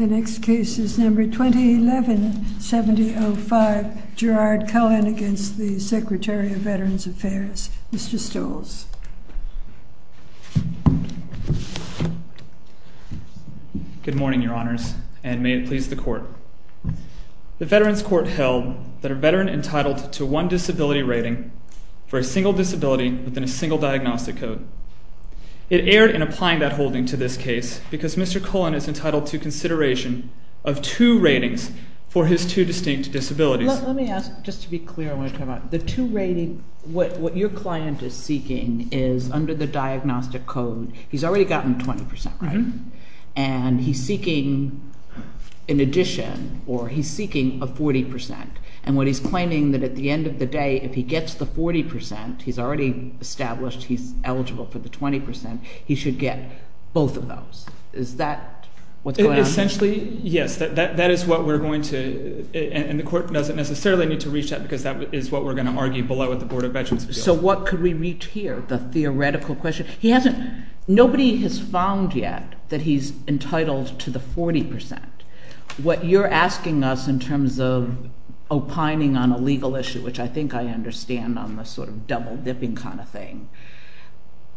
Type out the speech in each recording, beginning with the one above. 2011-70-05 Gerard Cullen v. Secretary of Veterans Affairs Mr. Stolz Good morning, Your Honors, and may it please the Court. The Veterans Court held that a veteran entitled to one disability rating for a single disability within a single diagnostic code. It erred in applying that holding to this case because Mr. Cullen is entitled to consideration of two ratings for his two distinct disabilities. Let me ask, just to be clear, I want to talk about the two ratings. What your client is seeking is, under the diagnostic code, he's already gotten 20%, right? And he's seeking an addition, or he's seeking a 40%. And what he's claiming that at the end of the day, if he gets the 40%, he's already established he's eligible for the 20%, he should get both of those. Is that what's going on? Essentially, yes. That is what we're going to – and the Court doesn't necessarily need to reach that because that is what we're going to argue below at the Board of Veterans Appeals. So what could we reach here, the theoretical question? He hasn't – nobody has found yet that he's entitled to the 40%. What you're asking us in terms of opining on a legal issue, which I think I understand on the sort of double-dipping kind of thing,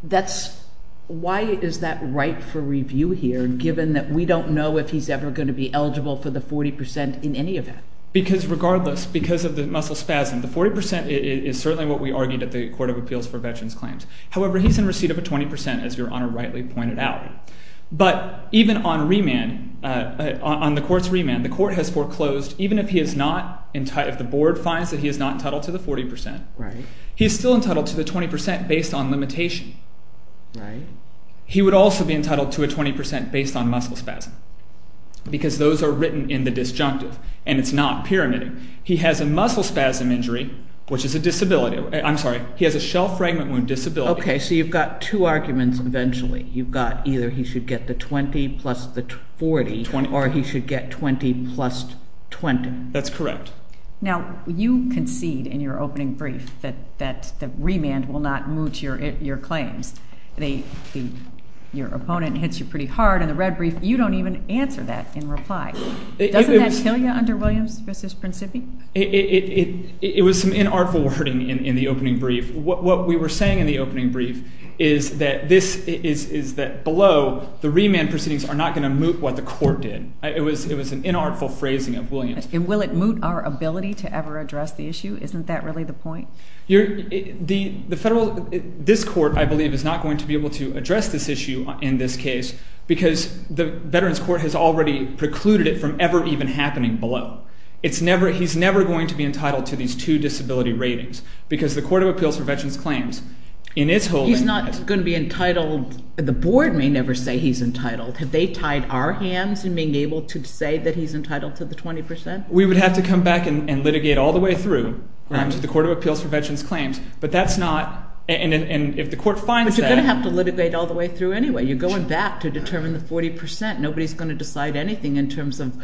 that's – why is that right for review here given that we don't know if he's ever going to be eligible for the 40% in any event? Because regardless, because of the muscle spasm, the 40% is certainly what we argued at the Court of Appeals for Veterans Claims. However, he's in receipt of a 20%, as Your Honor rightly pointed out. But even on remand, on the Court's remand, the Court has foreclosed even if he is not – if the Board finds that he is not entitled to the 40%, he is still entitled to the 20% based on limitation. He would also be entitled to a 20% based on muscle spasm because those are written in the disjunctive and it's not pyramiding. He has a muscle spasm injury, which is a disability. I'm sorry. He has a shell fragment wound disability. Okay. So you've got two arguments eventually. You've got either he should get the 20 plus the 40 or he should get 20 plus 20. That's correct. Now, you concede in your opening brief that remand will not moot your claims. Your opponent hits you pretty hard in the red brief. You don't even answer that in reply. Doesn't that kill you under Williams v. Principi? It was some inartful wording in the opening brief. What we were saying in the opening brief is that this – is that below, the remand proceedings are not going to moot what the Court did. It was an inartful phrasing of Williams. And will it moot our ability to ever address the issue? Isn't that really the point? The federal – this Court, I believe, is not going to be able to address this issue in this case because the Veterans Court has already precluded it from ever even happening below. It's never – he's never going to be entitled to these two disability ratings because the Court of Appeals for Veterans Claims in its holding – He's not going to be entitled – the board may never say he's entitled. Have they tied our hands in being able to say that he's entitled to the 20 percent? We would have to come back and litigate all the way through to the Court of Appeals for Veterans Claims. But that's not – and if the court finds that – But you're going to have to litigate all the way through anyway. You're going back to determine the 40 percent. Nobody is going to decide anything in terms of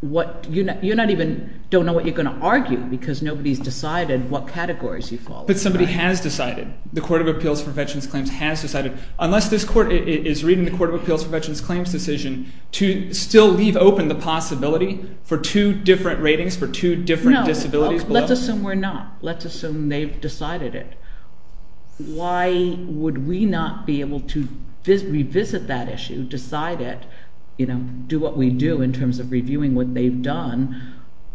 what – you're not even – don't know what you're going to argue because nobody has decided what categories you fall under. But somebody has decided. The Court of Appeals for Veterans Claims has decided. Unless this court is reading the Court of Appeals for Veterans Claims decision to still leave open the possibility for two different ratings for two different disabilities below. No. Let's assume we're not. Let's assume they've decided it. Why would we not be able to revisit that issue, decide it, do what we do in terms of reviewing what they've done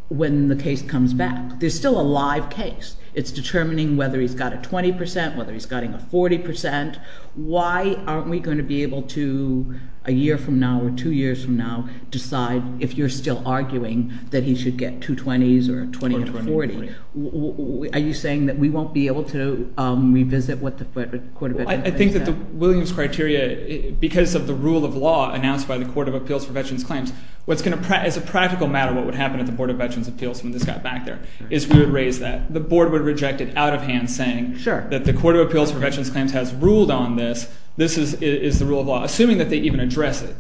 when the case comes back? There's still a live case. It's determining whether he's got a 20 percent, whether he's got a 40 percent. Why aren't we going to be able to a year from now or two years from now decide if you're still arguing that he should get two 20s or a 20 and a 40? Are you saying that we won't be able to revisit what the Court of Veterans Claims has? I think that the Williams criteria, because of the rule of law announced by the Court of Appeals for Veterans Claims, what's going to – as a practical matter what would happen at the Board of Veterans Appeals when this got back there is we would raise that. The board would reject it out of hand saying that the Court of Appeals for Veterans Claims has ruled on this. This is the rule of law, assuming that they even address it,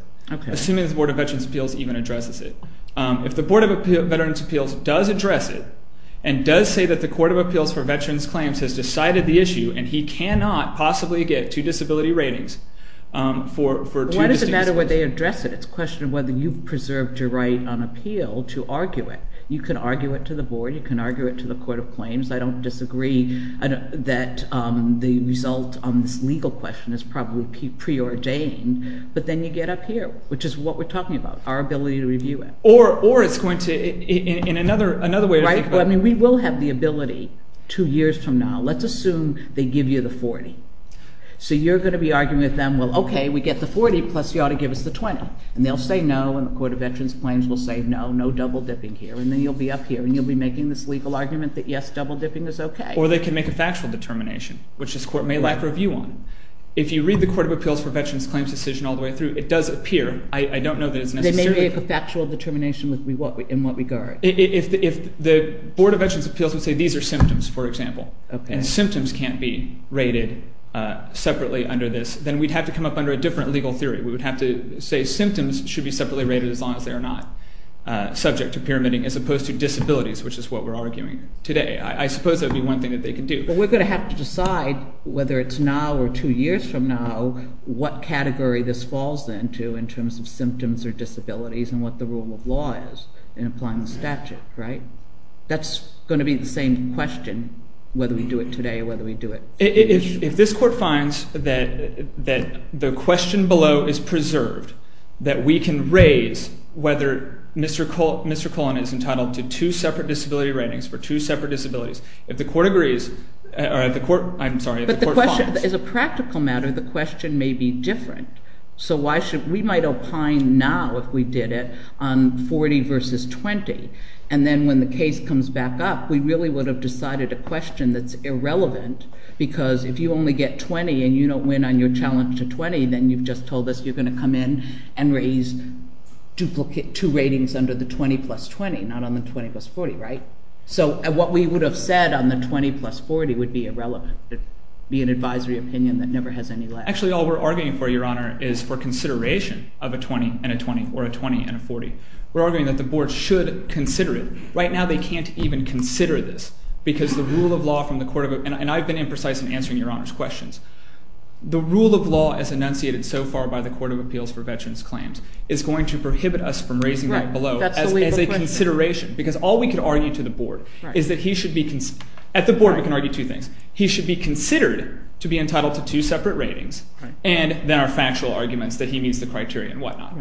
assuming the Board of Veterans Appeals even addresses it. If the Board of Veterans Appeals does address it and does say that the Court of Appeals for Veterans Claims has decided the issue and he cannot possibly get two disability ratings for two disabilities. Why does it matter whether they address it? It's a question of whether you've preserved your right on appeal to argue it. You can argue it to the board. You can argue it to the Court of Claims. I don't disagree that the result on this legal question is probably preordained, but then you get up here, which is what we're talking about, our ability to review it. Or it's going to – in another way to think about it. We will have the ability two years from now. Let's assume they give you the 40. So you're going to be arguing with them, well, okay, we get the 40 plus you ought to give us the 20. And they'll say no and the Court of Veterans Claims will say no, no double dipping here, and then you'll be up here and you'll be making this legal argument that yes, double dipping is okay. Or they can make a factual determination, which this court may lack review on. If you read the Court of Appeals for Veterans Claims decision all the way through, it does appear. I don't know that it's necessarily – They may make a factual determination in what regard. If the Board of Veterans Appeals would say these are symptoms, for example, and symptoms can't be rated separately under this, then we'd have to come up under a different legal theory. We would have to say symptoms should be separately rated as long as they are not subject to pyramiding as opposed to disabilities, which is what we're arguing today. I suppose that would be one thing that they could do. But we're going to have to decide whether it's now or two years from now what category this falls into in terms of symptoms or disabilities and what the rule of law is in applying the statute, right? That's going to be the same question whether we do it today or whether we do it – If this court finds that the question below is preserved, that we can raise whether Mr. Cullen is entitled to two separate disability ratings for two separate disabilities, if the court agrees – I'm sorry, if the court finds – But the question – as a practical matter, the question may be different. So why should – we might opine now if we did it on 40 versus 20. And then when the case comes back up, we really would have decided a question that's irrelevant because if you only get 20 and you don't win on your challenge to 20, then you've just told us you're going to come in and raise two ratings under the 20 plus 20, not on the 20 plus 40, right? So what we would have said on the 20 plus 40 would be irrelevant. It would be an advisory opinion that never has any light. Actually, all we're arguing for, Your Honor, is for consideration of a 20 and a 20 or a 20 and a 40. We're arguing that the board should consider it. Right now they can't even consider this because the rule of law from the court of – and I've been imprecise in answering Your Honor's questions. The rule of law as enunciated so far by the Court of Appeals for Veterans Claims is going to prohibit us from raising that below as a consideration because all we can argue to the board is that he should be – at the board we can argue two things. He should be considered to be entitled to two separate ratings and there are factual arguments that he meets the criteria and whatnot.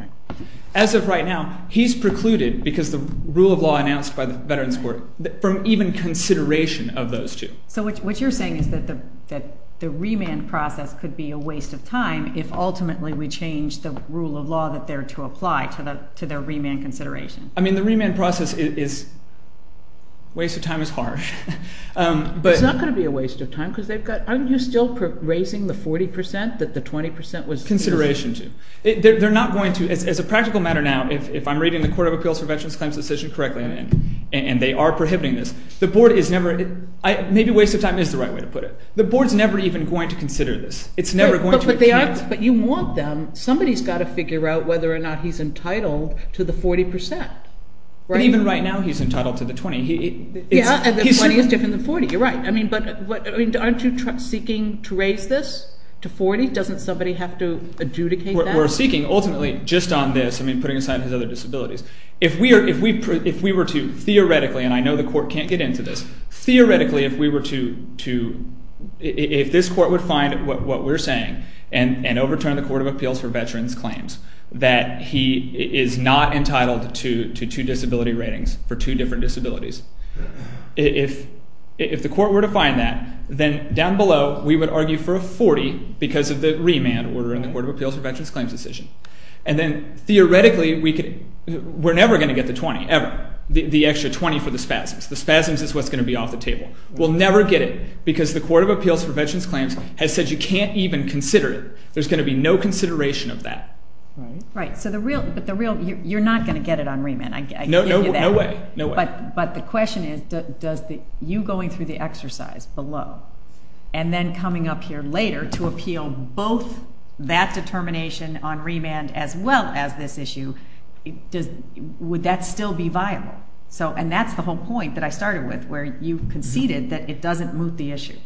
As of right now, he's precluded because the rule of law announced by the Veterans Court from even consideration of those two. So what you're saying is that the remand process could be a waste of time if ultimately we change the rule of law that they're to apply to their remand consideration. I mean the remand process is – waste of time is harsh. It's not going to be a waste of time because they've got – aren't you still raising the 40% that the 20% was – Consideration too. They're not going to – as a practical matter now, if I'm reading the Court of Appeals for Veterans Claims decision correctly and they are prohibiting this, the board is never – maybe waste of time is the right way to put it. The board is never even going to consider this. It's never going to – But you want them – somebody's got to figure out whether or not he's entitled to the 40%. Even right now, he's entitled to the 20. Yeah, and the 20 is different than 40. You're right. But aren't you seeking to raise this to 40? Doesn't somebody have to adjudicate that? We're seeking ultimately just on this – I mean putting aside his other disabilities. If we were to theoretically – and I know the court can't get into this. Theoretically, if we were to – if this court would find what we're saying and overturn the Court of Appeals for Veterans Claims, that he is not entitled to two disability ratings for two different disabilities. If the court were to find that, then down below we would argue for a 40 because of the remand order in the Court of Appeals for Veterans Claims decision. And then theoretically, we're never going to get the 20, ever, the extra 20 for the spasms. The spasms is what's going to be off the table. We'll never get it because the Court of Appeals for Veterans Claims has said you can't even consider it. There's going to be no consideration of that. Right. Right. So the real – you're not going to get it on remand. No way. No way. But the question is, does the – you going through the exercise below and then coming up here later to appeal both that determination on remand as well as this issue, would that still be viable? And that's the whole point that I started with where you conceded that it doesn't move the issue.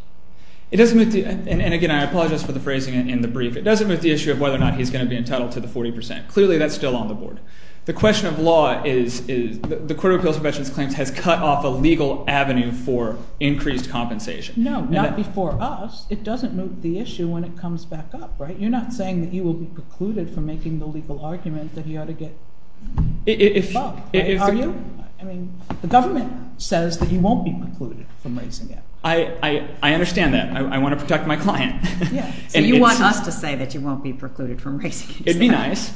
It doesn't move the – and again, I apologize for the phrasing in the brief. It doesn't move the issue of whether or not he's going to be entitled to the 40%. Clearly, that's still on the board. The question of law is the Court of Appeals for Veterans Claims has cut off a legal avenue for increased compensation. No, not before us. It doesn't move the issue when it comes back up, right? You're not saying that he will be precluded from making the legal argument that he ought to get – Well, I argue. I mean, the government says that he won't be precluded from raising it. I understand that. I want to protect my client. So you want us to say that you won't be precluded from raising it. It would be nice.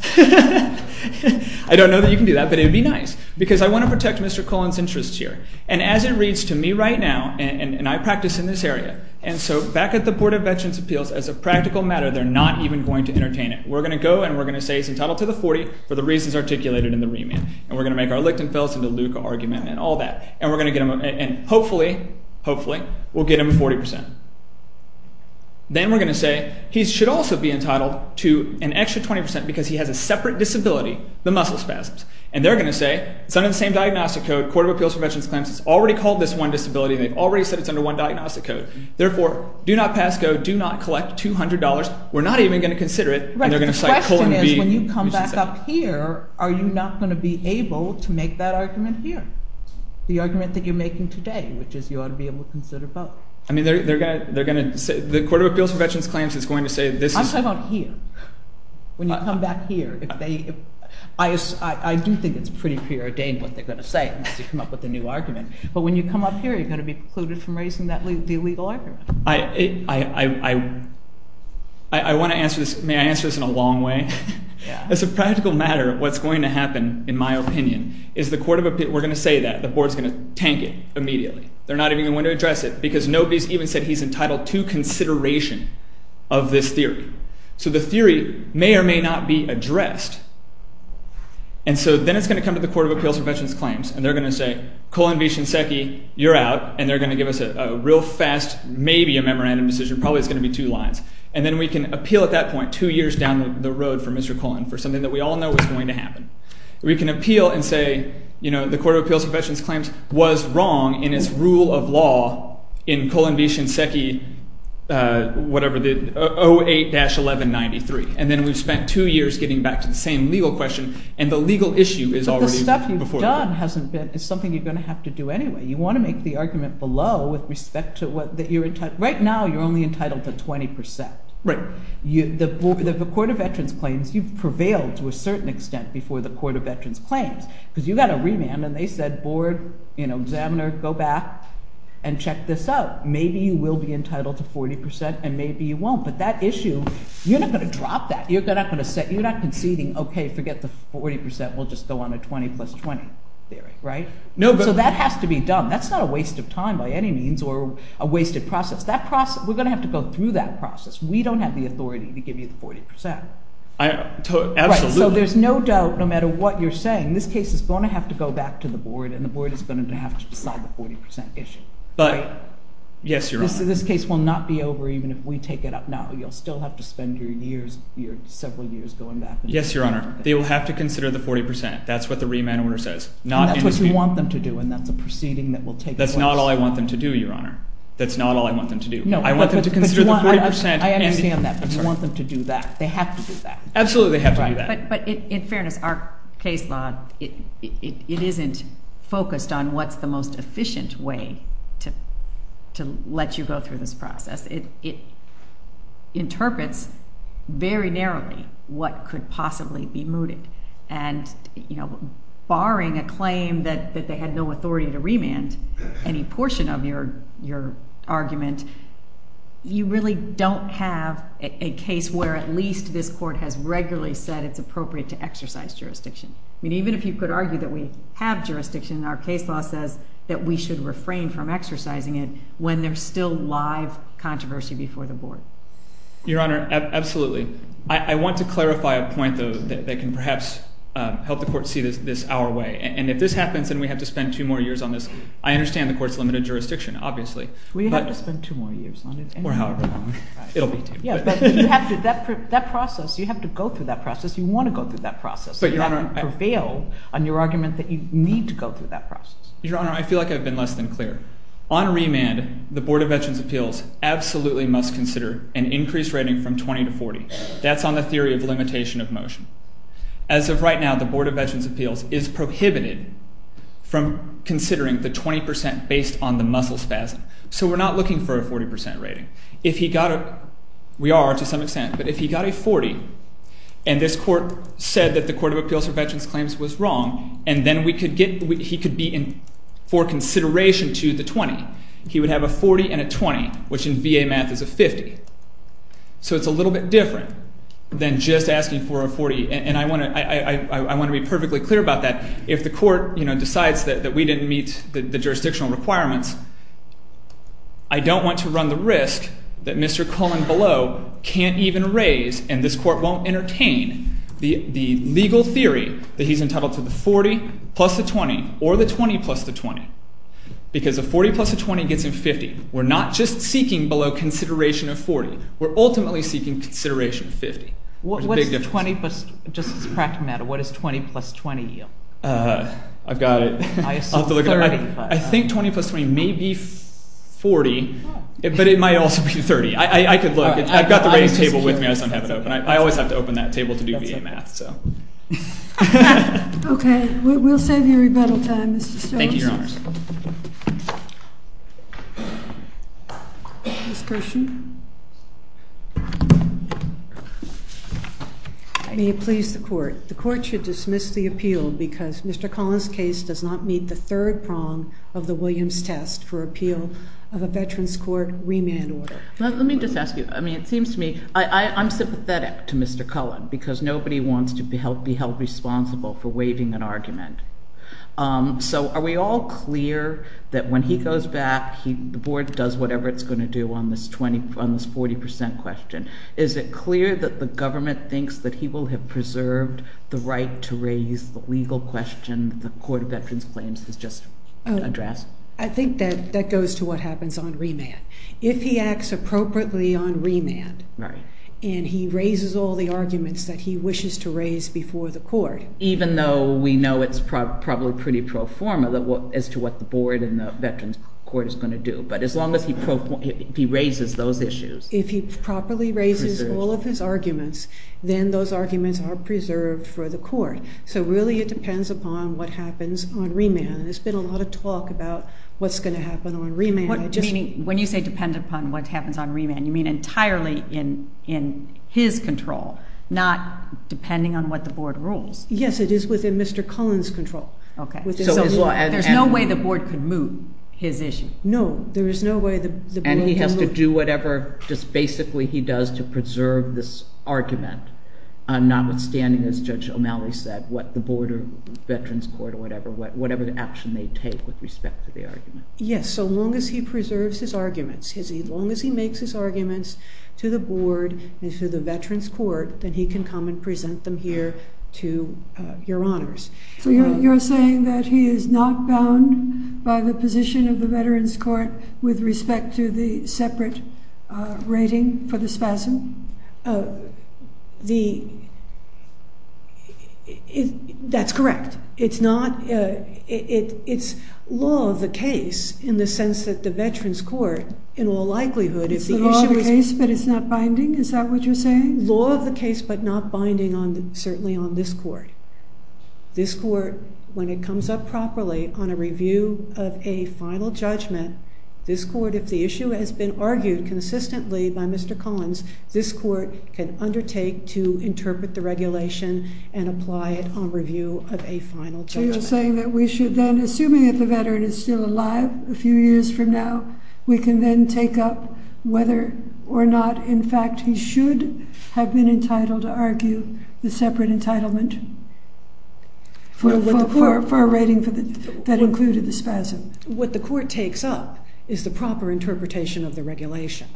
I don't know that you can do that, but it would be nice because I want to protect Mr. Cullen's interests here. And as it reads to me right now, and I practice in this area, and so back at the Board of Veterans' Appeals, as a practical matter, they're not even going to entertain it. We're going to go and we're going to say he's entitled to the 40 for the reasons articulated in the remand. And we're going to make our Lichtenfelds and DeLuca argument and all that. And we're going to get him a – and hopefully, hopefully we'll get him a 40%. Then we're going to say he should also be entitled to an extra 20% because he has a separate disability, the muscle spasms. And they're going to say it's under the same diagnostic code. The Court of Appeals for Veterans Claims has already called this one disability. They've already said it's under one diagnostic code. Therefore, do not pass go. Do not collect $200. We're not even going to consider it. And they're going to cite colon B. The question is when you come back up here, are you not going to be able to make that argument here, the argument that you're making today, which is you ought to be able to consider both. I mean they're going to – the Court of Appeals for Veterans Claims is going to say this is – I'm talking about here. When you come back here, if they – I do think it's pretty preordained what they're going to say unless you come up with a new argument. But when you come up here, you're going to be precluded from raising the illegal argument. I want to answer this. May I answer this in a long way? As a practical matter, what's going to happen, in my opinion, is the Court of – we're going to say that. The Board is going to tank it immediately. They're not even going to address it because nobody has even said he's entitled to consideration of this theory. So the theory may or may not be addressed. And so then it's going to come to the Court of Appeals for Veterans Claims and they're going to say colon B. Shinseki, you're out. And they're going to give us a real fast maybe a memorandum decision. Probably it's going to be two lines. And then we can appeal at that point two years down the road for Mr. Cullen for something that we all know was going to happen. We can appeal and say the Court of Appeals for Veterans Claims was wrong in its rule of law in colon B. Shinseki, whatever, 08-1193. And then we've spent two years getting back to the same legal question. And the legal issue is already before us. What you've done is something you're going to have to do anyway. You want to make the argument below with respect to what you're entitled. Right now you're only entitled to 20%. Right. The Court of Veterans Claims, you've prevailed to a certain extent before the Court of Veterans Claims because you got a remand and they said board, examiner, go back and check this out. Maybe you will be entitled to 40% and maybe you won't. But that issue, you're not going to drop that. You're not conceding, okay, forget the 40%. We'll just go on a 20 plus 20 theory. Right? So that has to be done. That's not a waste of time by any means or a wasted process. We're going to have to go through that process. We don't have the authority to give you the 40%. Absolutely. So there's no doubt no matter what you're saying, this case is going to have to go back to the board and the board is going to have to decide the 40% issue. But, yes, Your Honor. This case will not be over even if we take it up. You'll still have to spend your several years going back. Yes, Your Honor. They will have to consider the 40%. That's what the remand order says. And that's what you want them to do and that's a proceeding that will take place. That's not all I want them to do, Your Honor. That's not all I want them to do. I want them to consider the 40%. I understand that, but you want them to do that. They have to do that. Absolutely they have to do that. But in fairness, our case law, it isn't focused on what's the most efficient way to let you go through this process. It interprets very narrowly what could possibly be mooted. And, you know, barring a claim that they had no authority to remand any portion of your argument, you really don't have a case where at least this court has regularly said it's appropriate to exercise jurisdiction. I mean, even if you could argue that we have jurisdiction, our case law says that we should refrain from exercising it when there's still live controversy before the board. Your Honor, absolutely. I want to clarify a point, though, that can perhaps help the court see this our way. And if this happens and we have to spend two more years on this, I understand the court's limited jurisdiction, obviously. We have to spend two more years on it. Or however long. It'll be two. Yeah, but you have to go through that process. You want to go through that process. You haven't prevailed on your argument that you need to go through that process. Your Honor, I feel like I've been less than clear. On remand, the Board of Veterans' Appeals absolutely must consider an increased rating from 20 to 40. That's on the theory of limitation of motion. As of right now, the Board of Veterans' Appeals is prohibited from considering the 20% based on the muscle spasm. So we're not looking for a 40% rating. If he got a—we are to some extent—but if he got a 40 and this court said that the Court of Appeals for Veterans' Claims was wrong and then he could be for consideration to the 20, he would have a 40 and a 20, which in VA math is a 50. So it's a little bit different than just asking for a 40. And I want to be perfectly clear about that. If the court decides that we didn't meet the jurisdictional requirements, I don't want to run the risk that Mr. Cullen below can't even raise and this court won't entertain the legal theory that he's entitled to the 40 plus the 20 or the 20 plus the 20 because a 40 plus a 20 gets him 50. We're not just seeking below consideration of 40. We're ultimately seeking consideration of 50. It's a big difference. Just as a practical matter, what does 20 plus 20 yield? I've got it. I think 20 plus 20 may be 40, but it might also be 30. I could look. I've got the rating table with me. I just don't have it open. I always have to open that table to do VA math. Okay. We'll save you rebuttal time, Mr. Jones. Thank you, Your Honors. Ms. Kershaw. May it please the court, the court should dismiss the appeal because Mr. Cullen's case does not meet the third prong of the Williams test for appeal of a veteran's court remand order. Let me just ask you. I mean, it seems to me I'm sympathetic to Mr. Cullen because nobody wants to be held responsible for waiving an argument. So are we all clear that when he goes back, the board does whatever it's going to do on this 40% question? Is it clear that the government thinks that he will have preserved the right to raise the legal question the Court of Veterans Claims has just addressed? I think that that goes to what happens on remand. If he acts appropriately on remand and he raises all the arguments that he wishes to raise before the court. Even though we know it's probably pretty pro forma as to what the board and the veterans court is going to do. But as long as he raises those issues. If he properly raises all of his arguments, then those arguments are preserved for the court. So really it depends upon what happens on remand. There's been a lot of talk about what's going to happen on remand. When you say depend upon what happens on remand, you mean entirely in his control, not depending on what the board rules. Yes, it is within Mr. Cullen's control. There's no way the board could move his issue. No, there is no way the board can move it. And he has to do whatever, just basically he does to preserve this argument. Notwithstanding, as Judge O'Malley said, what the board or veterans court or whatever, whatever action they take with respect to the argument. Yes, so long as he preserves his arguments, as long as he makes his arguments to the board and to the veterans court, then he can come and present them here to your honors. So you're saying that he is not bound by the position of the veterans court with respect to the separate rating for the spasm? That's correct. It's not. It's law of the case in the sense that the veterans court, in all likelihood, if the issue is… It's the law of the case, but it's not binding? Is that what you're saying? Law of the case, but not binding certainly on this court. This court, when it comes up properly on a review of a final judgment, this court, if the issue has been argued consistently by Mr. Collins, this court can undertake to interpret the regulation and apply it on review of a final judgment. So you're saying that we should then, assuming that the veteran is still alive a few years from now, we can then take up whether or not, in fact, he should have been entitled to argue the separate entitlement for a rating that included the spasm. What the court takes up is the proper interpretation of the regulation.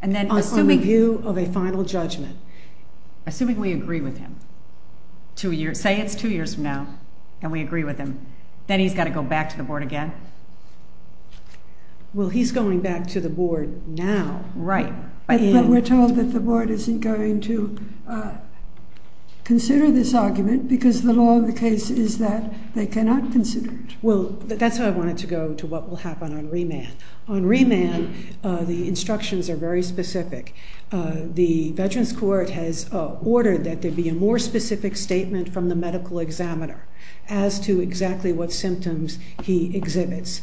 And then assuming… On review of a final judgment. Assuming we agree with him. Say it's two years from now and we agree with him. Then he's got to go back to the board again? Well, he's going back to the board now. Right. But we're told that the board isn't going to consider this argument because the law of the case is that they cannot consider it. Well, that's why I wanted to go to what will happen on remand. On remand, the instructions are very specific. The Veterans Court has ordered that there be a more specific statement from the medical examiner as to exactly what symptoms he exhibits.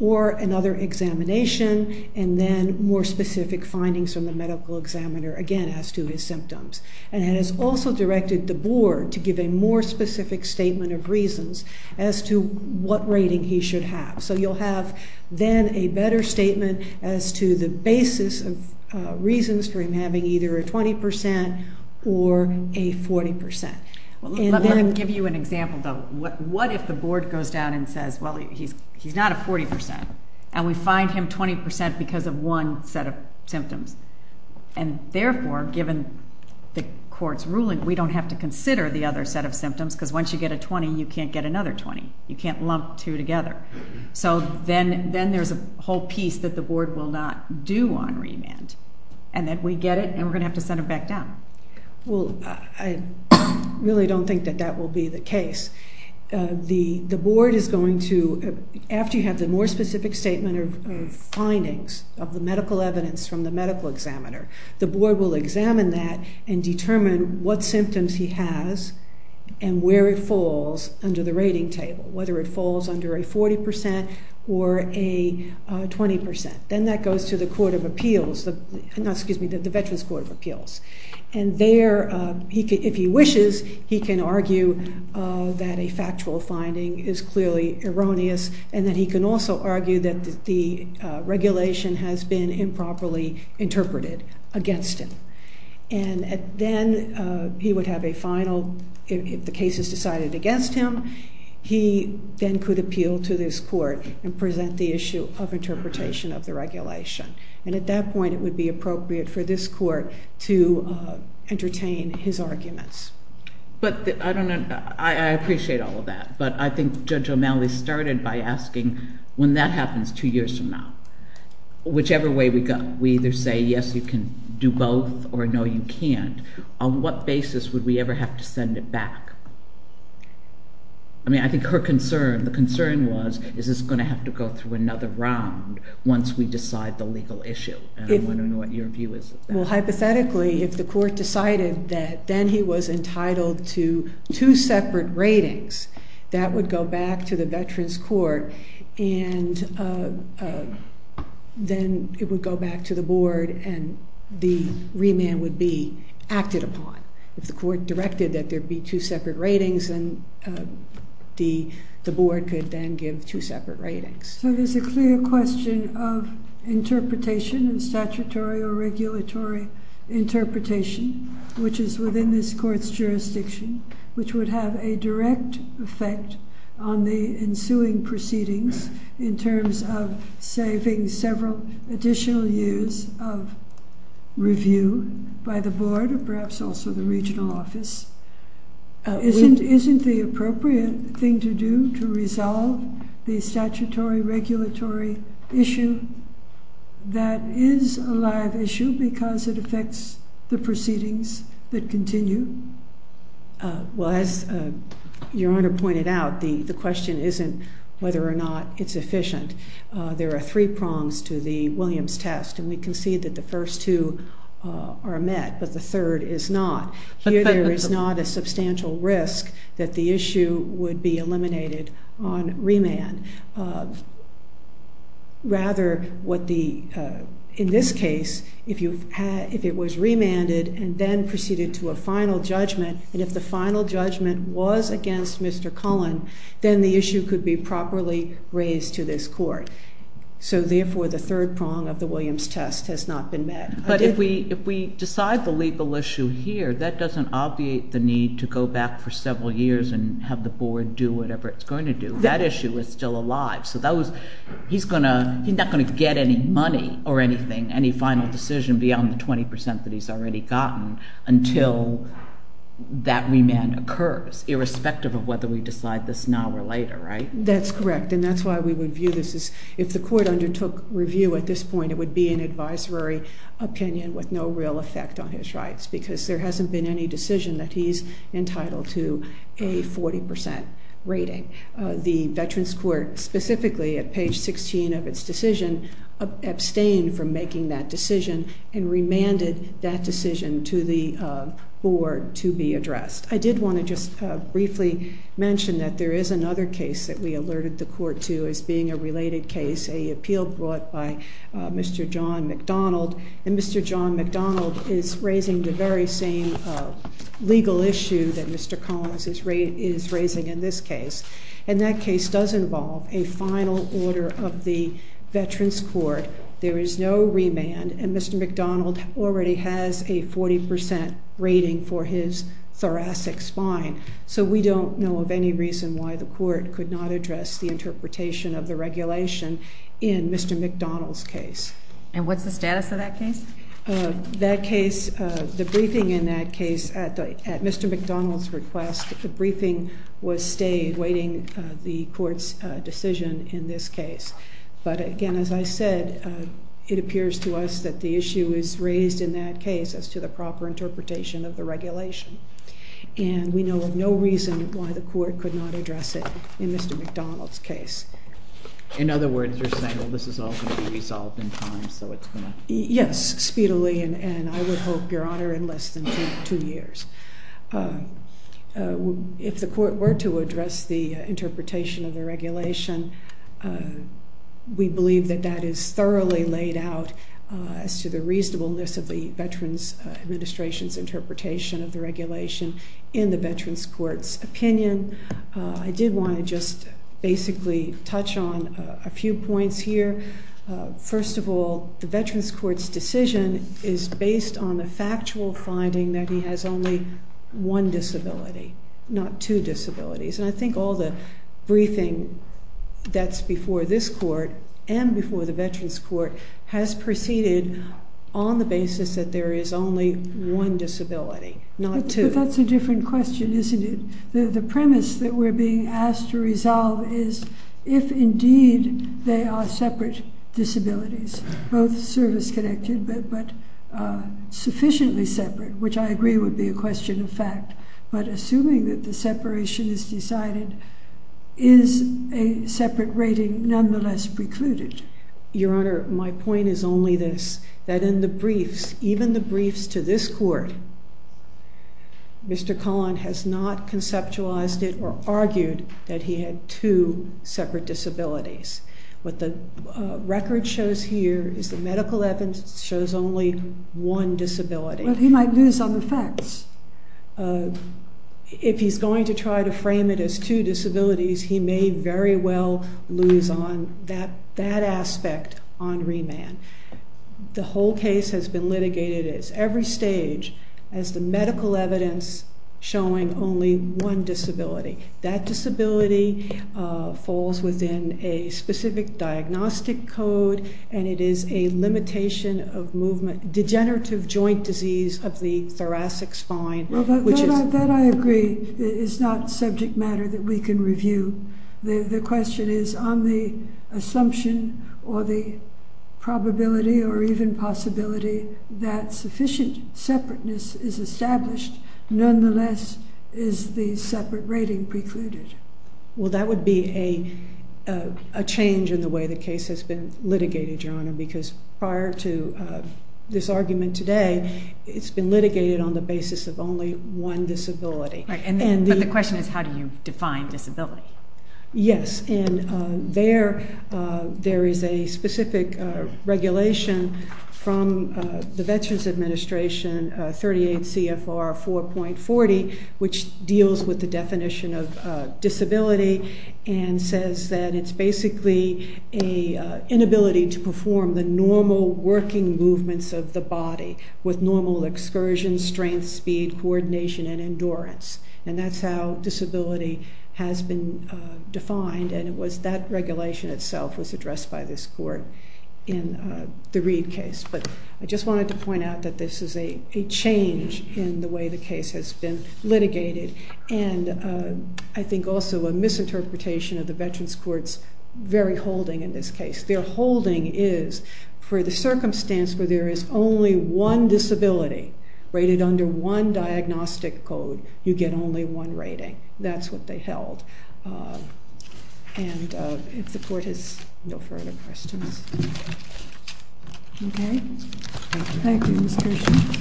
Or another examination and then more specific findings from the medical examiner, again, as to his symptoms. And it has also directed the board to give a more specific statement of reasons as to what rating he should have. So you'll have then a better statement as to the basis of reasons for him having either a 20% or a 40%. Let me give you an example, though. What if the board goes down and says, well, he's not a 40% and we find him 20% because of one set of symptoms? And therefore, given the court's ruling, we don't have to consider the other set of symptoms because once you get a 20, you can't get another 20. You can't lump two together. So then there's a whole piece that the board will not do on remand and that we get it and we're going to have to send him back down. Well, I really don't think that that will be the case. The board is going to, after you have the more specific statement of findings of the medical evidence from the medical examiner, the board will examine that and determine what symptoms he has and where it falls under the rating table, whether it falls under a 40% or a 20%. Then that goes to the Veterans Court of Appeals. And there, if he wishes, he can argue that a factual finding is clearly erroneous and that he can also argue that the regulation has been improperly interpreted against him. And then he would have a final, if the case is decided against him, he then could appeal to this court and present the issue of interpretation of the regulation. And at that point, it would be appropriate for this court to entertain his arguments. But I don't know, I appreciate all of that, but I think Judge O'Malley started by asking, when that happens two years from now, whichever way we go, can't we either say, yes, you can do both, or no, you can't? On what basis would we ever have to send it back? I mean, I think her concern, the concern was, is this going to have to go through another round once we decide the legal issue? And I'm wondering what your view is of that. Well, hypothetically, if the court decided that then he was entitled to two separate ratings, that would go back to the Veterans Court and then it would go back to the board and the remand would be acted upon. If the court directed that there be two separate ratings, then the board could then give two separate ratings. So there's a clear question of interpretation, of statutory or regulatory interpretation, which is within this court's jurisdiction, which would have a direct effect on the ensuing proceedings in terms of saving several additional years of review by the board or perhaps also the regional office. Isn't the appropriate thing to do to resolve the statutory regulatory issue that is a live issue because it affects the proceedings that continue? Well, as Your Honor pointed out, the question isn't whether or not it's efficient. There are three prongs to the Williams test and we concede that the first two are met, but the third is not. Here there is not a substantial risk that the issue would be eliminated on remand. Rather, in this case, if it was remanded and then proceeded to a final judgment, and if the final judgment was against Mr. Cullen, then the issue could be properly raised to this court. So therefore the third prong of the Williams test has not been met. But if we decide the legal issue here, that doesn't obviate the need to go back for several years and have the board do whatever it's going to do. That issue is still alive. So he's not going to get any money or anything, any final decision beyond the 20% that he's already gotten until that remand occurs, irrespective of whether we decide this now or later, right? That's correct, and that's why we would view this as... If the court undertook review at this point, it would be an advisory opinion with no real effect on his rights because there hasn't been any decision that he's entitled to a 40% rating. The Veterans Court, specifically at page 16 of its decision, abstained from making that decision and remanded that decision to the board to be addressed. I did want to just briefly mention that there is another case that we alerted the court to as being a related case, an appeal brought by Mr. John McDonald. And Mr. John McDonald is raising the very same legal issue that Mr. Cullen is raising in this case. And that case does involve a final order of the Veterans Court. There is no remand, and Mr. McDonald already has a 40% rating for his thoracic spine. So we don't know of any reason why the court could not address the interpretation of the regulation in Mr. McDonald's case. And what's the status of that case? That case, the briefing in that case, at Mr. McDonald's request, the briefing was stayed, waiting the court's decision in this case. But again, as I said, it appears to us that the issue is raised in that case as to the proper interpretation of the regulation. And we know of no reason why the court could not address it in Mr. McDonald's case. In other words, you're saying, well, this is all going to be resolved in time, so it's going to... Yes, speedily, and I would hope, Your Honor, in less than two years. If the court were to address the interpretation of the regulation, we believe that that is thoroughly laid out as to the reasonableness of the Veterans Administration's interpretation of the regulation in the Veterans Court's opinion. I did want to just basically touch on a few points here. First of all, the Veterans Court's decision is based on the factual finding that he has only one disability, not two disabilities. And I think all the briefing that's before this court and before the Veterans Court has proceeded on the basis that there is only one disability, not two. But that's a different question, isn't it? The premise that we're being asked to resolve is if indeed they are separate disabilities, both service-connected but sufficiently separate, which I agree would be a question of fact. But assuming that the separation is decided, is a separate rating nonetheless precluded? Your Honor, my point is only this, that in the briefs, even the briefs to this court, Mr. Cullen has not conceptualized it or argued that he had two separate disabilities. What the record shows here is the medical evidence shows only one disability. Well, he might lose on the facts. If he's going to try to frame it as two disabilities, he may very well lose on that aspect on remand. The whole case has been litigated at every stage as the medical evidence showing only one disability. That disability falls within a specific diagnostic code and it is a limitation of movement, degenerative joint disease of the thoracic spine. That I agree is not subject matter that we can review. The question is on the assumption or the probability or even possibility that sufficient separateness is established, nonetheless is the separate rating precluded? Well, that would be a change in the way the case has been litigated, Your Honor, because prior to this argument today, it's been litigated on the basis of only one disability. But the question is how do you define disability? Yes, and there is a specific regulation from the Veterans Administration, 38 CFR 4.40, which deals with the definition of disability and says that it's basically an inability to perform the normal working movements of the body with normal excursion, strength, speed, coordination, and endurance. And that's how disability has been defined and that regulation itself was addressed by this court in the Reed case. But I just wanted to point out that this is a change in the way the case has been litigated and I think also a misinterpretation of the veterans' courts' very holding in this case. Their holding is for the circumstance where there is only one disability rated under one diagnostic code, you get only one rating. That's what they held. And if the court has no further questions. Okay. Thank you, Ms. Kirshen.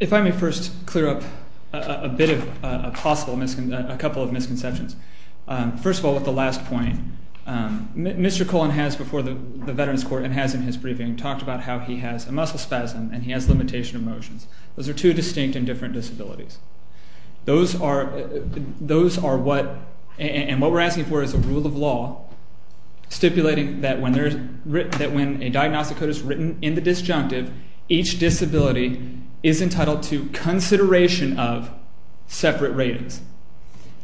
If I may first clear up a bit of a possible misconception, a couple of misconceptions. First of all, with the last point. Mr. Colon has before the veterans' court and has in his briefing talked about how he has a muscle spasm and he has limitation of motions. Those are two distinct and different disabilities. Those are what we're asking for is a rule of law stipulating that when a diagnostic code is written in the disjunctive, each disability is entitled to consideration of separate ratings.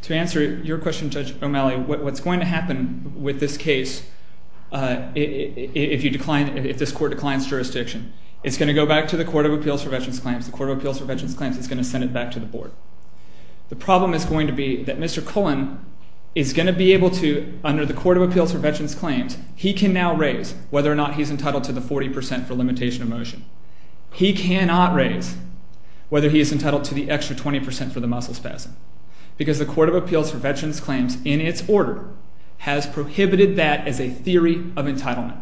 To answer your question, Judge O'Malley, what's going to happen with this case if this court declines jurisdiction, it's going to go back to the Court of Appeals for Veterans' Claims. The Court of Appeals for Veterans' Claims is going to send it back to the board. The problem is going to be that Mr. Colon is going to be able to, under the Court of Appeals for Veterans' Claims, he can now raise whether or not he's entitled to the 40% for limitation of motion. He cannot raise whether he is entitled to the extra 20% for the muscle spasm because the Court of Appeals for Veterans' Claims, in its order, has prohibited that as a theory of entitlement.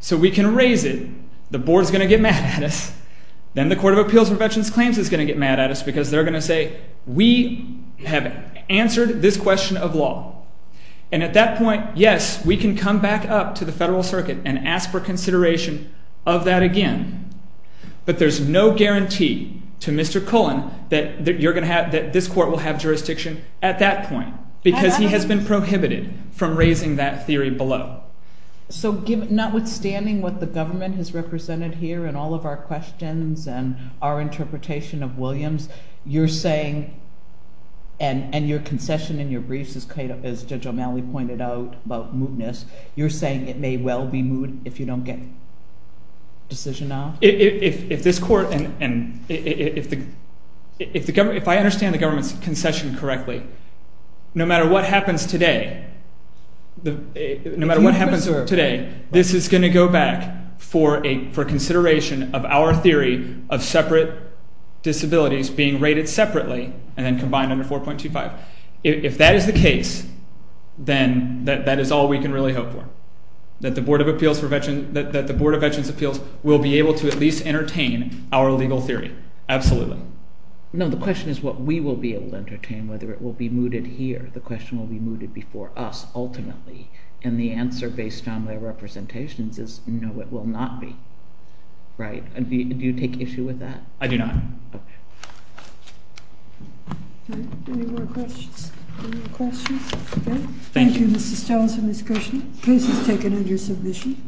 So we can raise it. The board is going to get mad at us. Then the Court of Appeals for Veterans' Claims is going to get mad at us because they're going to say, we have answered this question of law. And at that point, yes, we can come back up to the federal circuit and ask for consideration of that again. But there's no guarantee to Mr. Colon that you're going to have, that this court will have jurisdiction at that point because he has been prohibited from raising that theory below. So notwithstanding what the government has represented here in all of our questions and our interpretation of Williams, you're saying, and your concession in your briefs, as Judge O'Malley pointed out about mootness, you're saying it may well be moot if you don't get a decision now? If this court and if the government, if I understand the government's concession correctly, no matter what happens today, no matter what happens today, this is going to go back for consideration of our theory of separate disabilities being rated separately and then combined under 4.25. If that is the case, then that is all we can really hope for, that the Board of Veterans' Appeals will be able to at least entertain our legal theory, absolutely. No, the question is what we will be able to entertain, whether it will be mooted here. The question will be mooted before us ultimately. And the answer based on their representations is no, it will not be. Do you take issue with that? I do not. All right. Any more questions? Any more questions? Okay. Thank you. Thank you, Mr. Stelz and Ms. Cushing. The case is taken under submission.